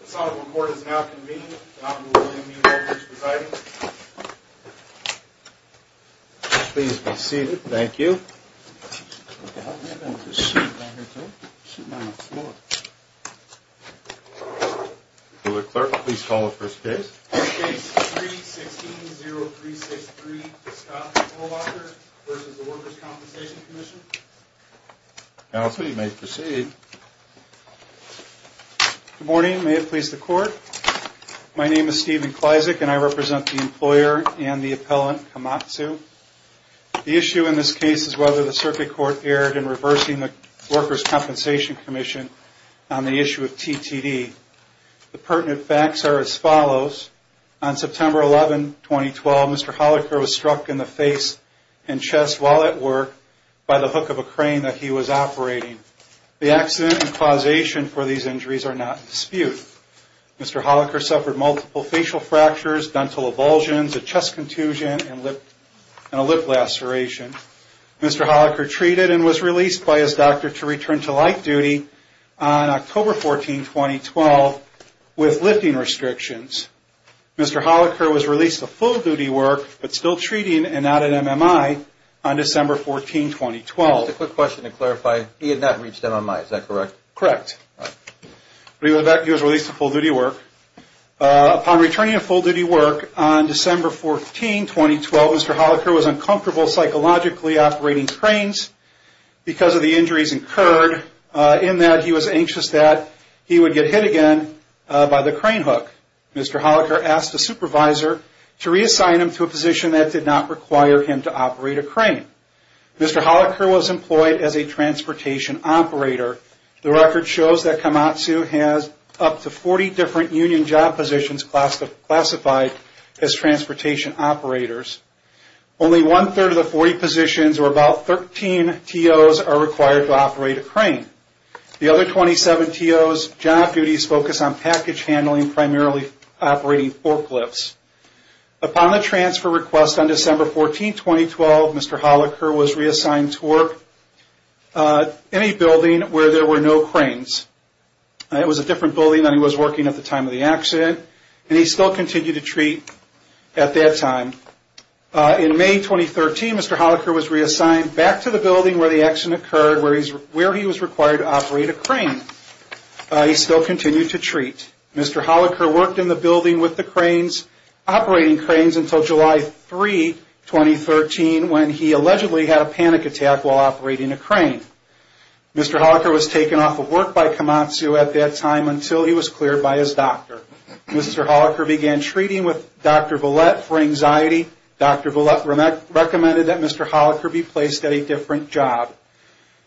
The Sonoma Court is now convened. The Honorable William E. Walker is presiding. Please be seated. Thank you. Will the clerk please call the first case? Case 3-16-0363, Scott Holocker v. Workers' Compensation Comm'n. Now, sir, you may proceed. Good morning. May it please the Court? My name is Stephen Klyzak, and I represent the employer and the appellant, Komatsu. The issue in this case is whether the Circuit Court erred in reversing the Workers' Compensation Comm'n on the issue of TTD. The pertinent facts are as follows. On September 11, 2012, Mr. Holocker was struck in the face and chest while at work by the hook of a crane that he was operating. The accident and causation for these injuries are not in dispute. Mr. Holocker suffered multiple facial fractures, dental avulsions, a chest contusion, and a lip laceration. Mr. Holocker treated and was released by his doctor to return to light duty on October 14, 2012, with lifting restrictions. Mr. Holocker was released to full duty work but still treating and at an MMI on December 14, 2012. Just a quick question to clarify. He had not reached MMI, is that correct? Correct. He was released to full duty work. Upon returning to full duty work on December 14, 2012, Mr. Holocker was uncomfortable psychologically operating cranes because of the injuries incurred, in that he was anxious that he would get hit again by the crane hook. Mr. Holocker asked a supervisor to reassign him to a position that did not require him to operate a crane. Mr. Holocker was employed as a transportation operator. The record shows that Komatsu has up to 40 different union job positions classified as transportation operators. Only one-third of the 40 positions, or about 13 TOs, are required to operate a crane. The other 27 TOs' job duties focus on package handling, primarily operating forklifts. Upon the transfer request on December 14, 2012, Mr. Holocker was reassigned to work in a building where there were no cranes. It was a different building than he was working at the time of the accident, and he still continued to treat at that time. In May 2013, Mr. Holocker was reassigned back to the building where the accident occurred, where he was required to operate a crane. He still continued to treat. Mr. Holocker worked in the building with the cranes, operating cranes, until July 3, 2013, when he allegedly had a panic attack while operating a crane. Mr. Holocker was taken off of work by Komatsu at that time until he was cleared by his doctor. Mr. Holocker began treating with Dr. Villette for anxiety. Dr. Villette recommended that Mr. Holocker be placed at a different job.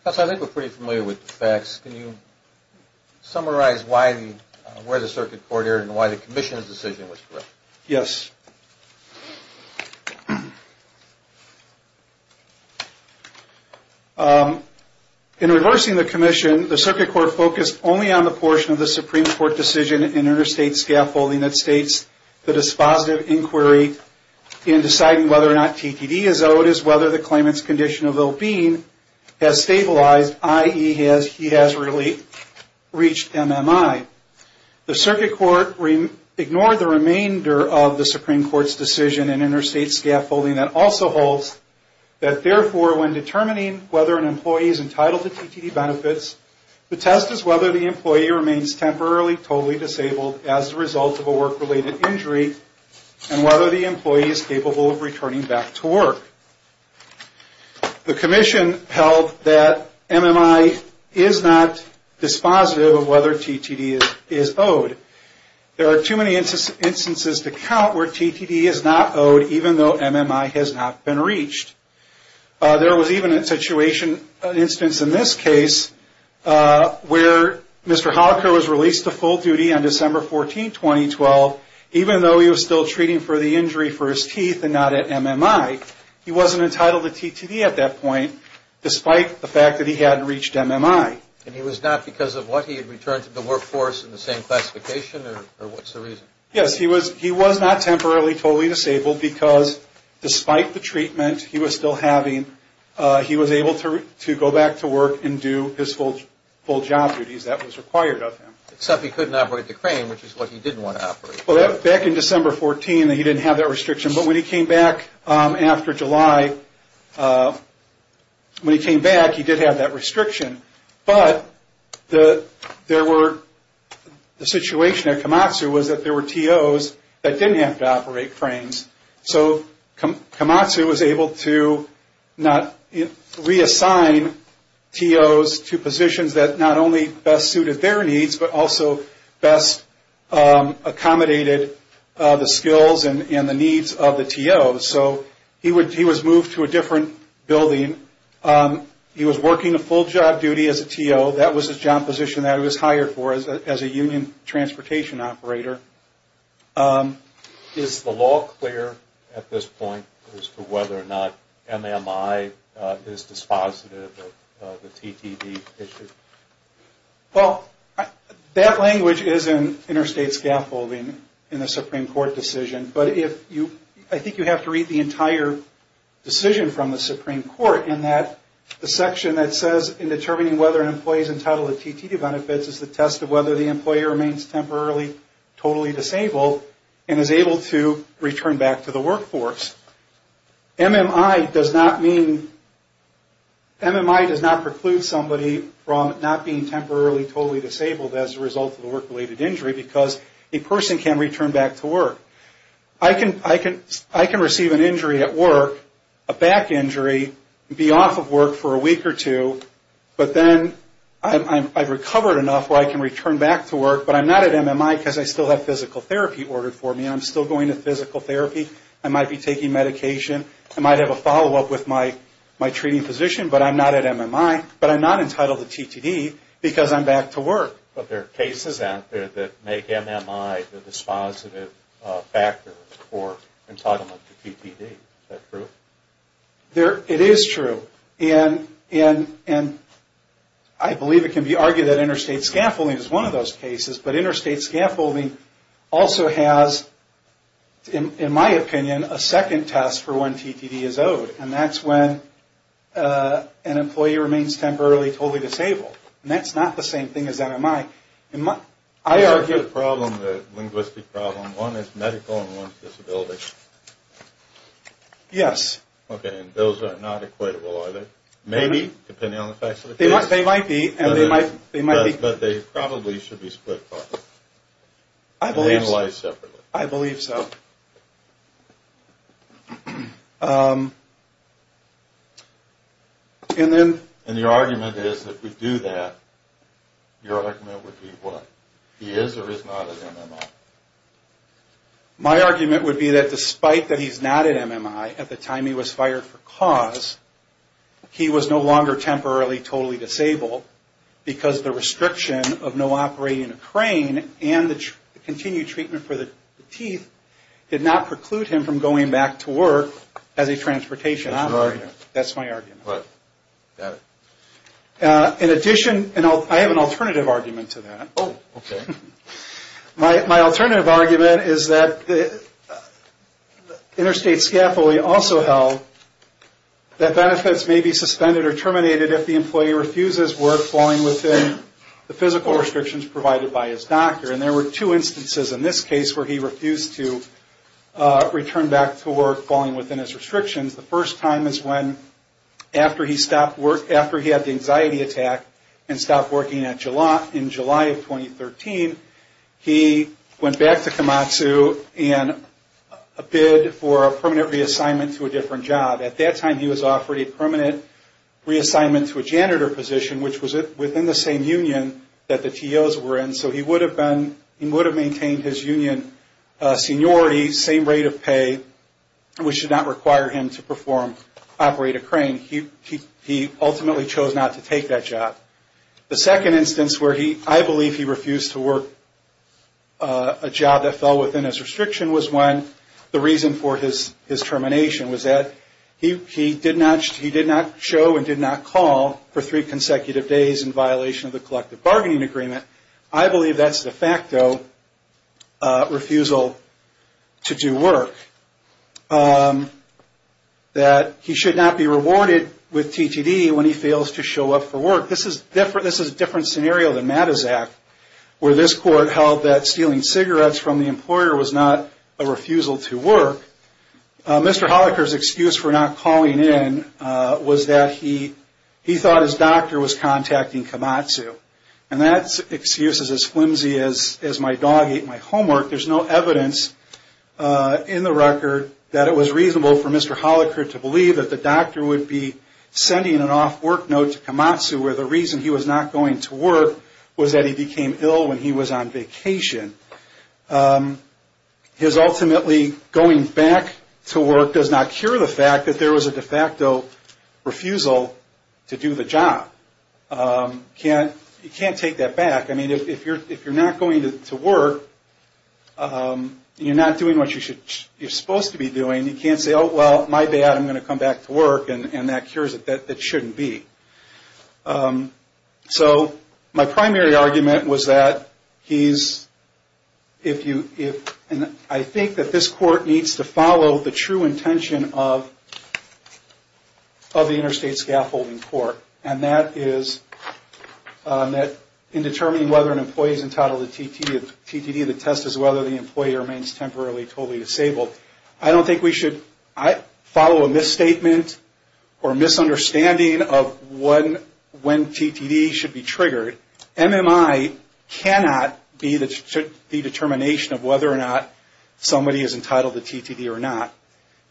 I think we're pretty familiar with the facts. Can you summarize where the Circuit Court is and why the Commission's decision was correct? Yes. In reversing the Commission, the Circuit Court focused only on the portion of the Supreme Court decision in interstate scaffolding that states that a dispositive inquiry in deciding whether or not TTD is owed is whether the claimant's condition of ill-being has stabilized, i.e., he has reached MMI. The Circuit Court ignored the remainder of the Supreme Court's decision in interstate scaffolding that also holds that, therefore, when determining whether an employee is entitled to TTD benefits, the test is whether the employee remains temporarily totally disabled as a result of a work-related injury and whether the employee is capable of returning back to work. The Commission held that MMI is not dispositive of whether TTD is owed. There are too many instances to count where TTD is not owed even though MMI has not been reached. There was even an instance in this case where Mr. Holocker was released to full duty on December 14, 2012, even though he was still treating for the injury for his teeth and not at MMI. He wasn't entitled to TTD at that point despite the fact that he hadn't reached MMI. And he was not because of what? He had returned to the workforce in the same classification, or what's the reason? Yes. He was not temporarily totally disabled because despite the treatment he was still having, he was able to go back to work and do his full job duties. That was required of him. Except he couldn't operate the crane, which is what he didn't want to operate. Back in December 14, he didn't have that restriction. But when he came back after July, when he came back, he did have that restriction. But the situation at Komatsu was that there were TOs that didn't have to operate cranes. So Komatsu was able to reassign TOs to positions that not only best suited their needs, but also best accommodated the skills and the needs of the TOs. So he was moved to a different building. He was working a full job duty as a TO. That was the job position that he was hired for as a union transportation operator. Is the law clear at this point as to whether or not MMI is dispositive of the TTD issue? Well, that language is in interstate scaffolding in the Supreme Court decision. But I think you have to read the entire decision from the Supreme Court in that the section that says in determining whether an employee is entitled to TTD benefits is the test of whether the employee remains temporarily totally disabled and is able to return back to the workforce. MMI does not preclude somebody from not being temporarily totally disabled as a result of a work-related injury because a person can return back to work. I can receive an injury at work, a back injury, be off of work for a week or two, but then I've recovered enough where I can return back to work, but I'm not at MMI because I still have physical therapy ordered for me. I'm still going to physical therapy. I might be taking medication. I might have a follow-up with my treating physician, but I'm not at MMI. But I'm not entitled to TTD because I'm back to work. But there are cases out there that make MMI the dispositive factor for entitlement to TTD. Is that true? It is true. And I believe it can be argued that interstate scaffolding is one of those cases, but interstate scaffolding also has, in my opinion, a second test for when TTD is owed, and that's when an employee remains temporarily totally disabled. And that's not the same thing as MMI. I argue the problem, the linguistic problem, one is medical and one is disability. Yes. Okay, and those are not equatable, are they? Maybe, depending on the facts of the case. They might be, and they might be. But they probably should be split apart. I believe so. And analyzed separately. I believe so. And then... And your argument is if we do that, your argument would be what? He is or is not at MMI? My argument would be that despite that he's not at MMI, at the time he was fired for cause, he was no longer temporarily totally disabled because the restriction of no operating a crane and the continued treatment for the teeth did not preclude him from going back to work as a transportation operator. That's your argument. That's my argument. Got it. In addition, and I have an alternative argument to that. Oh, okay. My alternative argument is that interstate scaffolding also held that benefits may be suspended or terminated if the employee refuses work following within the physical restrictions provided by his doctor. And there were two instances in this case where he refused to return back to work following within his restrictions. The first time is when after he stopped work, after he had the anxiety attack and stopped working in July of 2013, he went back to Komatsu and bid for a permanent reassignment to a different job. At that time, he was offered a permanent reassignment to a janitor position, which was within the same union that the TOs were in. So he would have maintained his union seniority, same rate of pay, which did not require him to operate a crane. He ultimately chose not to take that job. The second instance where I believe he refused to work a job that fell within his restriction was when the reason for his termination was that he did not show and did not call for three consecutive days in violation of the collective bargaining agreement. I believe that's de facto refusal to do work, that he should not be rewarded with TTD when he fails to show up for work. This is a different scenario than Matizak, where this court held that stealing cigarettes from the employer was not a refusal to work. Mr. Holaker's excuse for not calling in was that he thought his doctor was contacting Komatsu. And that excuse is as flimsy as my dog ate my homework. There's no evidence in the record that it was reasonable for Mr. Holaker to believe that the doctor would be sending an off work note to Komatsu, where the reason he was not going to work was that he became ill when he was on vacation. His ultimately going back to work does not cure the fact that there was a de facto refusal to do the job. You can't take that back. I mean, if you're not going to work, you're not doing what you're supposed to be doing. You can't say, oh, well, my bad, I'm going to come back to work, and that cures it. That shouldn't be. So my primary argument was that he's, if you, and I think that this court needs to follow the true intention of the interstate scaffolding court. And that is that in determining whether an employee is entitled to TTD, the test is whether the employee remains temporarily totally disabled. I don't think we should follow a misstatement or misunderstanding of when TTD should be triggered. MMI cannot be the determination of whether or not somebody is entitled to TTD or not.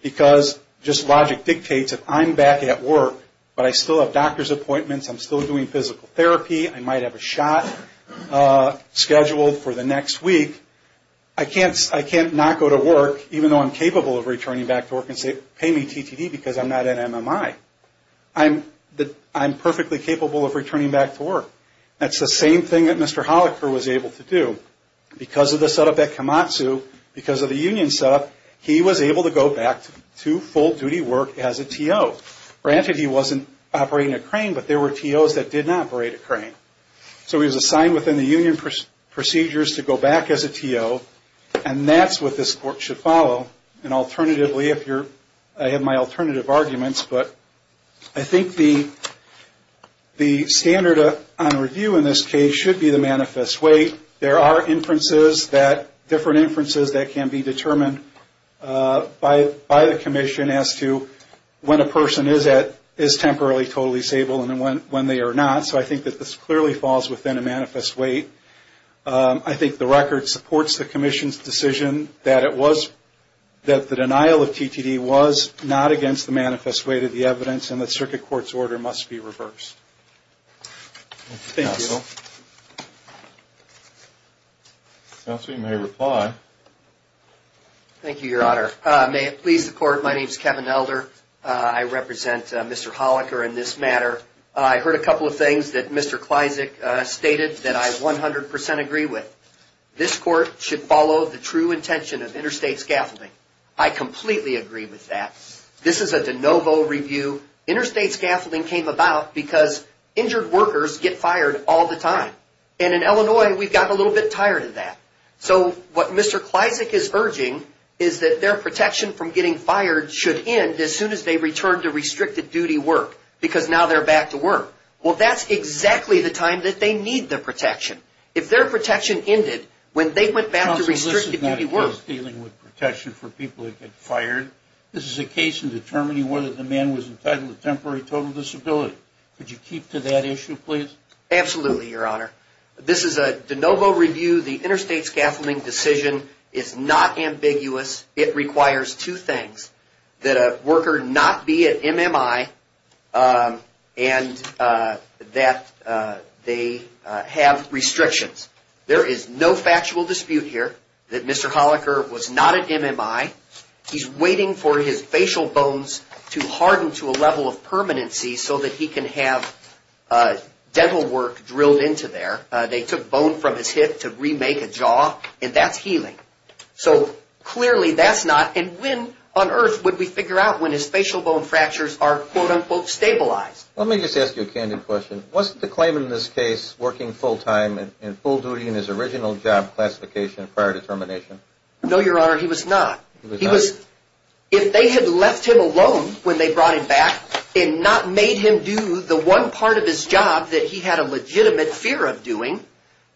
Because just logic dictates if I'm back at work, but I still have doctor's appointments, I'm still doing physical therapy, I might have a shot scheduled for the next week. I can't not go to work, even though I'm capable of returning back to work and say, pay me TTD because I'm not in MMI. I'm perfectly capable of returning back to work. That's the same thing that Mr. Holliker was able to do. Because of the setup at Komatsu, because of the union setup, he was able to go back to full-duty work as a TO. Granted, he wasn't operating a crane, but there were TOs that did not operate a crane. So he was assigned within the union procedures to go back as a TO. And that's what this court should follow. And alternatively, I have my alternative arguments, but I think the standard on review in this case should be the manifest weight. There are different inferences that can be determined by the commission as to when a person is temporarily totally stable and when they are not. So I think that this clearly falls within a manifest weight. I think the record supports the commission's decision that the denial of TTD was not against the manifest weight of the evidence, and that circuit court's order must be reversed. Thank you. Counsel. Counsel, you may reply. Thank you, Your Honor. May it please the court, my name is Kevin Elder. I represent Mr. Holliker in this matter. I heard a couple of things that Mr. Klyzik stated that I 100% agree with. This court should follow the true intention of interstate scaffolding. I completely agree with that. This is a de novo review. Interstate scaffolding came about because injured workers get fired all the time. And in Illinois, we've gotten a little bit tired of that. So what Mr. Klyzik is urging is that their protection from getting fired should end as soon as they return to restricted duty work because now they're back to work. Well, that's exactly the time that they need the protection. If their protection ended when they went back to restricted duty work. Counsel, this is not just dealing with protection for people who get fired. This is a case in determining whether the man was entitled to temporary total disability. Could you keep to that issue, please? Absolutely, Your Honor. This is a de novo review. The interstate scaffolding decision is not ambiguous. It requires two things. That a worker not be at MMI and that they have restrictions. There is no factual dispute here that Mr. Holliker was not at MMI. He's waiting for his facial bones to harden to a level of permanency so that he can have dental work drilled into there. They took bone from his hip to remake a jaw and that's healing. So clearly that's not. And when on earth would we figure out when his facial bone fractures are quote unquote stabilized? Let me just ask you a candid question. Wasn't the claim in this case working full time and full duty in his original job classification prior to termination? No, Your Honor, he was not. If they had left him alone when they brought him back and not made him do the one part of his job that he had a legitimate fear of doing,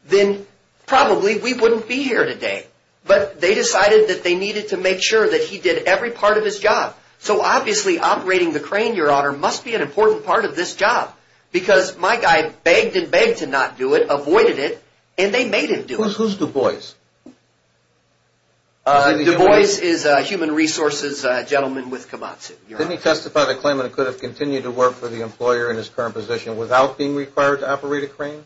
then probably we wouldn't be here today. But they decided that they needed to make sure that he did every part of his job. So obviously operating the crane, Your Honor, must be an important part of this job. Because my guy begged and begged to not do it, avoided it, and they made him do it. Who's Du Bois? Du Bois is a human resources gentleman with Komatsu, Your Honor. Didn't he testify to the claim that he could have continued to work for the employer in his current position without being required to operate a crane?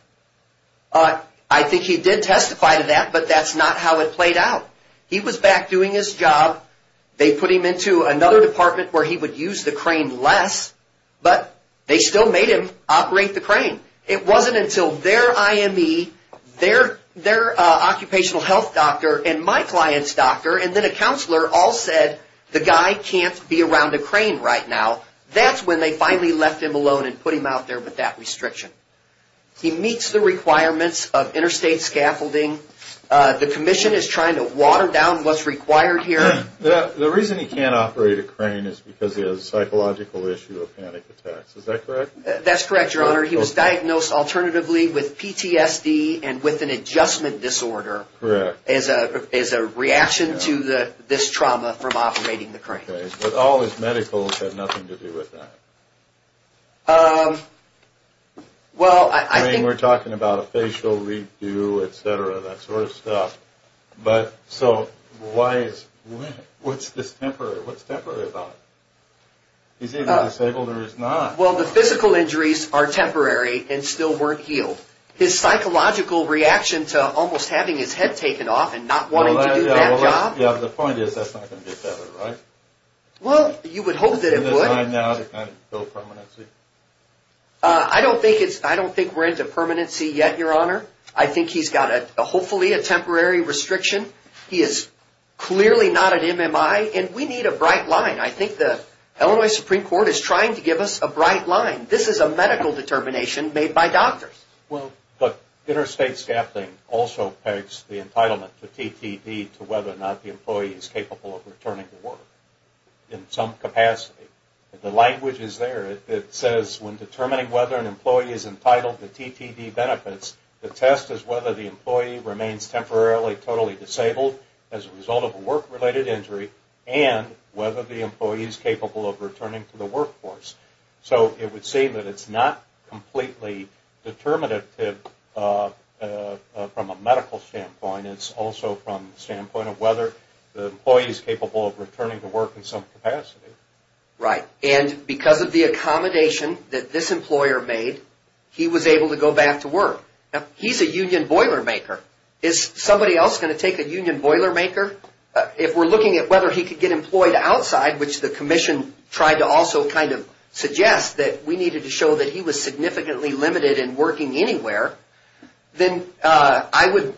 I think he did testify to that, but that's not how it played out. He was back doing his job. They put him into another department where he would use the crane less, but they still made him operate the crane. It wasn't until their IME, their occupational health doctor, and my client's doctor, and then a counselor all said, the guy can't be around a crane right now. That's when they finally left him alone and put him out there with that restriction. He meets the requirements of interstate scaffolding. The commission is trying to water down what's required here. The reason he can't operate a crane is because he has a psychological issue of panic attacks. Is that correct? That's correct, Your Honor. He was diagnosed alternatively with PTSD and with an adjustment disorder. Correct. As a reaction to this trauma from operating the crane. But all his medicals had nothing to do with that. Well, I think... I mean, we're talking about a facial re-do, et cetera, that sort of stuff. But so why is... what's this temporary? What's temporary about it? He's either disabled or he's not. Well, the physical injuries are temporary and still weren't healed. His psychological reaction to almost having his head taken off and not wanting to do that job... Yeah, the point is that's not going to get better, right? Well, you would hope that it would. Is it time now to kind of go permanency? I don't think we're into permanency yet, Your Honor. I think he's got, hopefully, a temporary restriction. He is clearly not an MMI, and we need a bright line. I think the Illinois Supreme Court is trying to give us a bright line. This is a medical determination made by doctors. Well, but interstate staffing also pegs the entitlement to TTD to whether or not the employee is capable of returning to work in some capacity. The language is there. It says, when determining whether an employee is entitled to TTD benefits, the test is whether the employee remains temporarily totally disabled as a result of a work-related injury and whether the employee is capable of returning to the workforce. So it would say that it's not completely determinative from a medical standpoint. It's also from the standpoint of whether the employee is capable of returning to work in some capacity. Right. And because of the accommodation that this employer made, he was able to go back to work. He's a union boilermaker. Is somebody else going to take a union boilermaker? If we're looking at whether he could get employed outside, which the commission tried to also kind of suggest that we needed to show that he was significantly limited in working anywhere, then I would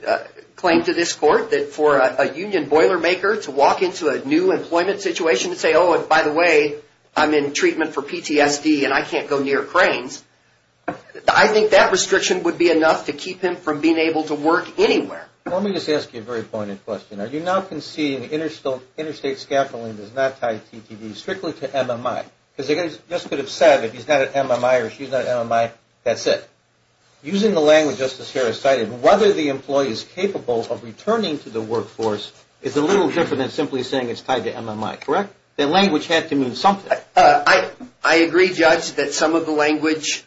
claim to this court that for a union boilermaker to walk into a new employment situation and say, oh, and by the way, I'm in treatment for PTSD and I can't go near cranes, I think that restriction would be enough to keep him from being able to work anywhere. Let me just ask you a very pointed question. Are you now conceding interstate scaffolding is not tied to PTD, strictly to MMI? Because they just could have said if he's not at MMI or she's not at MMI, that's it. Using the language Justice Harris cited, whether the employee is capable of returning to the workforce is a little different than simply saying it's tied to MMI, correct? The language had to mean something. I agree, Judge, that some of the language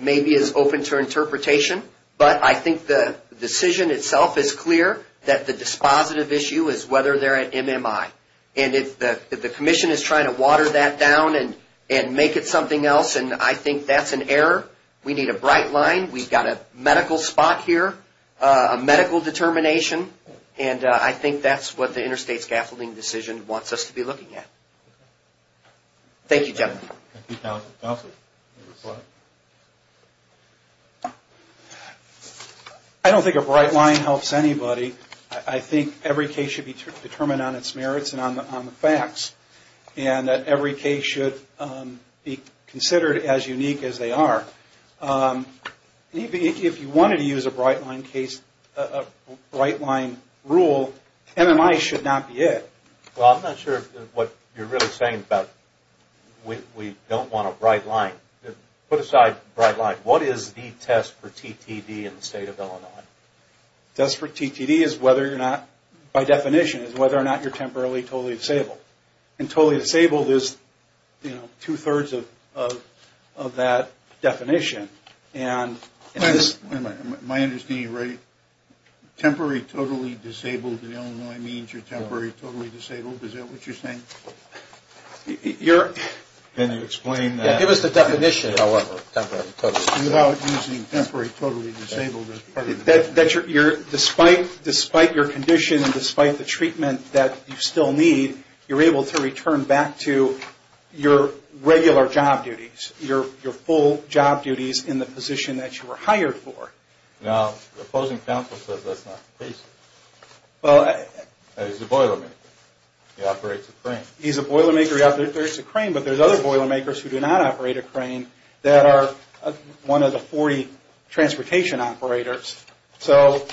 maybe is open to interpretation, but I think the decision itself is clear that the dispositive issue is whether they're at MMI. And if the commission is trying to water that down and make it something else, I think that's an error. We need a bright line. We've got a medical spot here, a medical determination, and I think that's what the interstate scaffolding decision wants us to be looking at. Thank you, gentlemen. Thank you, counsel. Counsel, you have a question? I don't think a bright line helps anybody. I think every case should be determined on its merits and on the facts, and that every case should be considered as unique as they are. If you wanted to use a bright line rule, MMI should not be it. Well, I'm not sure what you're really saying about we don't want a bright line. Put aside bright line. What is the test for TTD in the state of Illinois? The test for TTD is whether or not, by definition, is whether or not you're temporarily totally disabled. And totally disabled is, you know, two-thirds of that definition. Wait a minute. Am I understanding you right? Temporary totally disabled in Illinois means you're temporarily totally disabled. Is that what you're saying? Can you explain that? Yeah, give us the definition. Without using temporary totally disabled as part of the definition. Despite your condition and despite the treatment that you still need, you're able to return back to your regular job duties, your full job duties in the position that you were hired for. Now, the opposing counsel says that's not the case. He's a boilermaker. He operates a crane. He's a boilermaker. He operates a crane. But there's other boilermakers who do not operate a crane that are one of the 40 transportation operators. So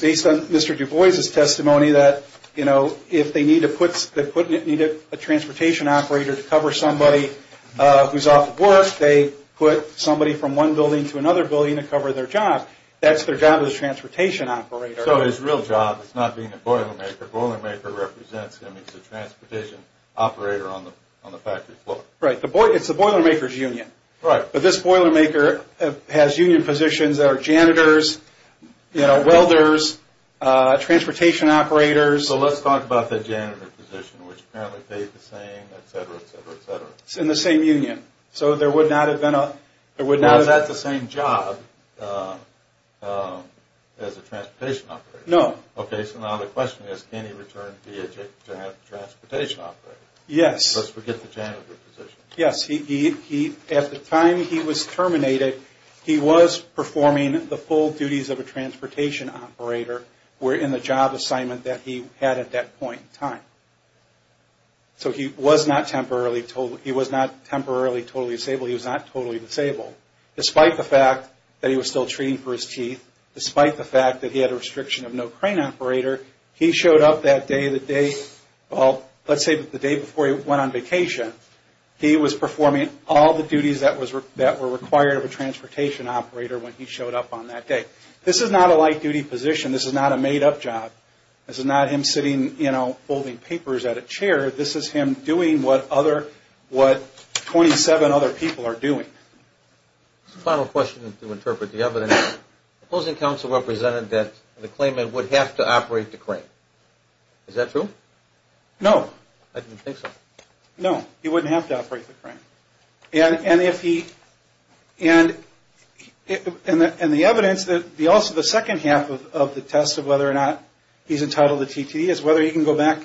based on Mr. Du Bois' testimony that, you know, if they needed a transportation operator to cover somebody who's off of work, they put somebody from one building to another building to cover their job. That's their job as a transportation operator. So his real job is not being a boilermaker. Boilermaker represents him. He's a transportation operator on the factory floor. Right. It's the boilermaker's union. Right. But this boilermaker has union positions that are janitors, welders, transportation operators. So let's talk about the janitor position, which apparently paid the same, et cetera, et cetera, et cetera. It's in the same union. So there would not have been a – there would not have – Well, is that the same job as a transportation operator? No. Okay. So now the question is can he return to be a transportation operator? Yes. Let's forget the janitor position. Yes. At the time he was terminated, he was performing the full duties of a transportation operator in the job assignment that he had at that point in time. So he was not temporarily totally – he was not temporarily totally disabled. He was not totally disabled. Despite the fact that he was still treating for his teeth, despite the fact that he had a restriction of no crane operator, he showed up that day, the day – well, let's say the day before he went on vacation. He was performing all the duties that were required of a transportation operator when he showed up on that day. This is not a light-duty position. This is not a made-up job. This is not him sitting, you know, folding papers at a chair. This is him doing what other – what 27 other people are doing. Final question to interpret the evidence. Opposing counsel represented that the claimant would have to operate the crane. Is that true? No. I didn't think so. No. He wouldn't have to operate the crane. And if he – and the evidence that – also the second half of the test of whether or not he's entitled to TTE is whether he can go back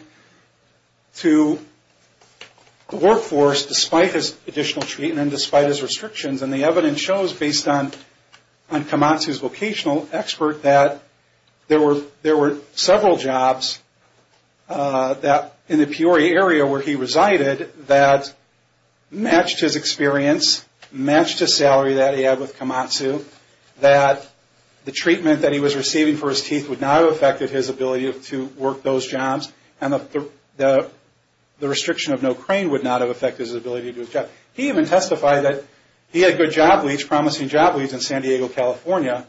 to the workforce despite his additional treatment, despite his restrictions. And the evidence shows, based on Kamatsu's vocational expert, that there were several jobs in the Peoria area where he resided that matched his experience, matched his salary that he had with Kamatsu, that the treatment that he was receiving for his teeth would not have affected his ability to work those jobs, and the restriction of no crane would not have affected his ability to do his job. He even testified that he had good job leads, promising job leads, in San Diego, California.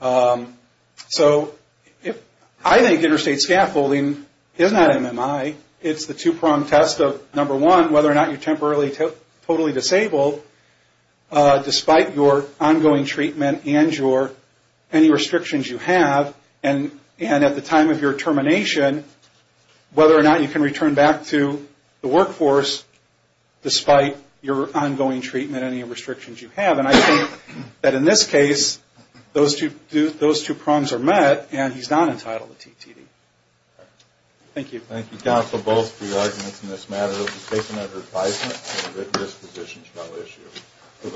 So I think interstate scaffolding is not MMI. It's the two-pronged test of, number one, whether or not you're temporarily totally disabled despite your ongoing treatment and any restrictions you have, and at the time of your termination, whether or not you can return back to the workforce despite your ongoing treatment and any restrictions you have. And I think that in this case, those two prongs are met, and he's not entitled to TTE. Thank you. Thank you, counsel, both for your arguments in this matter. It was a statement of advisement and a written disposition to our issue.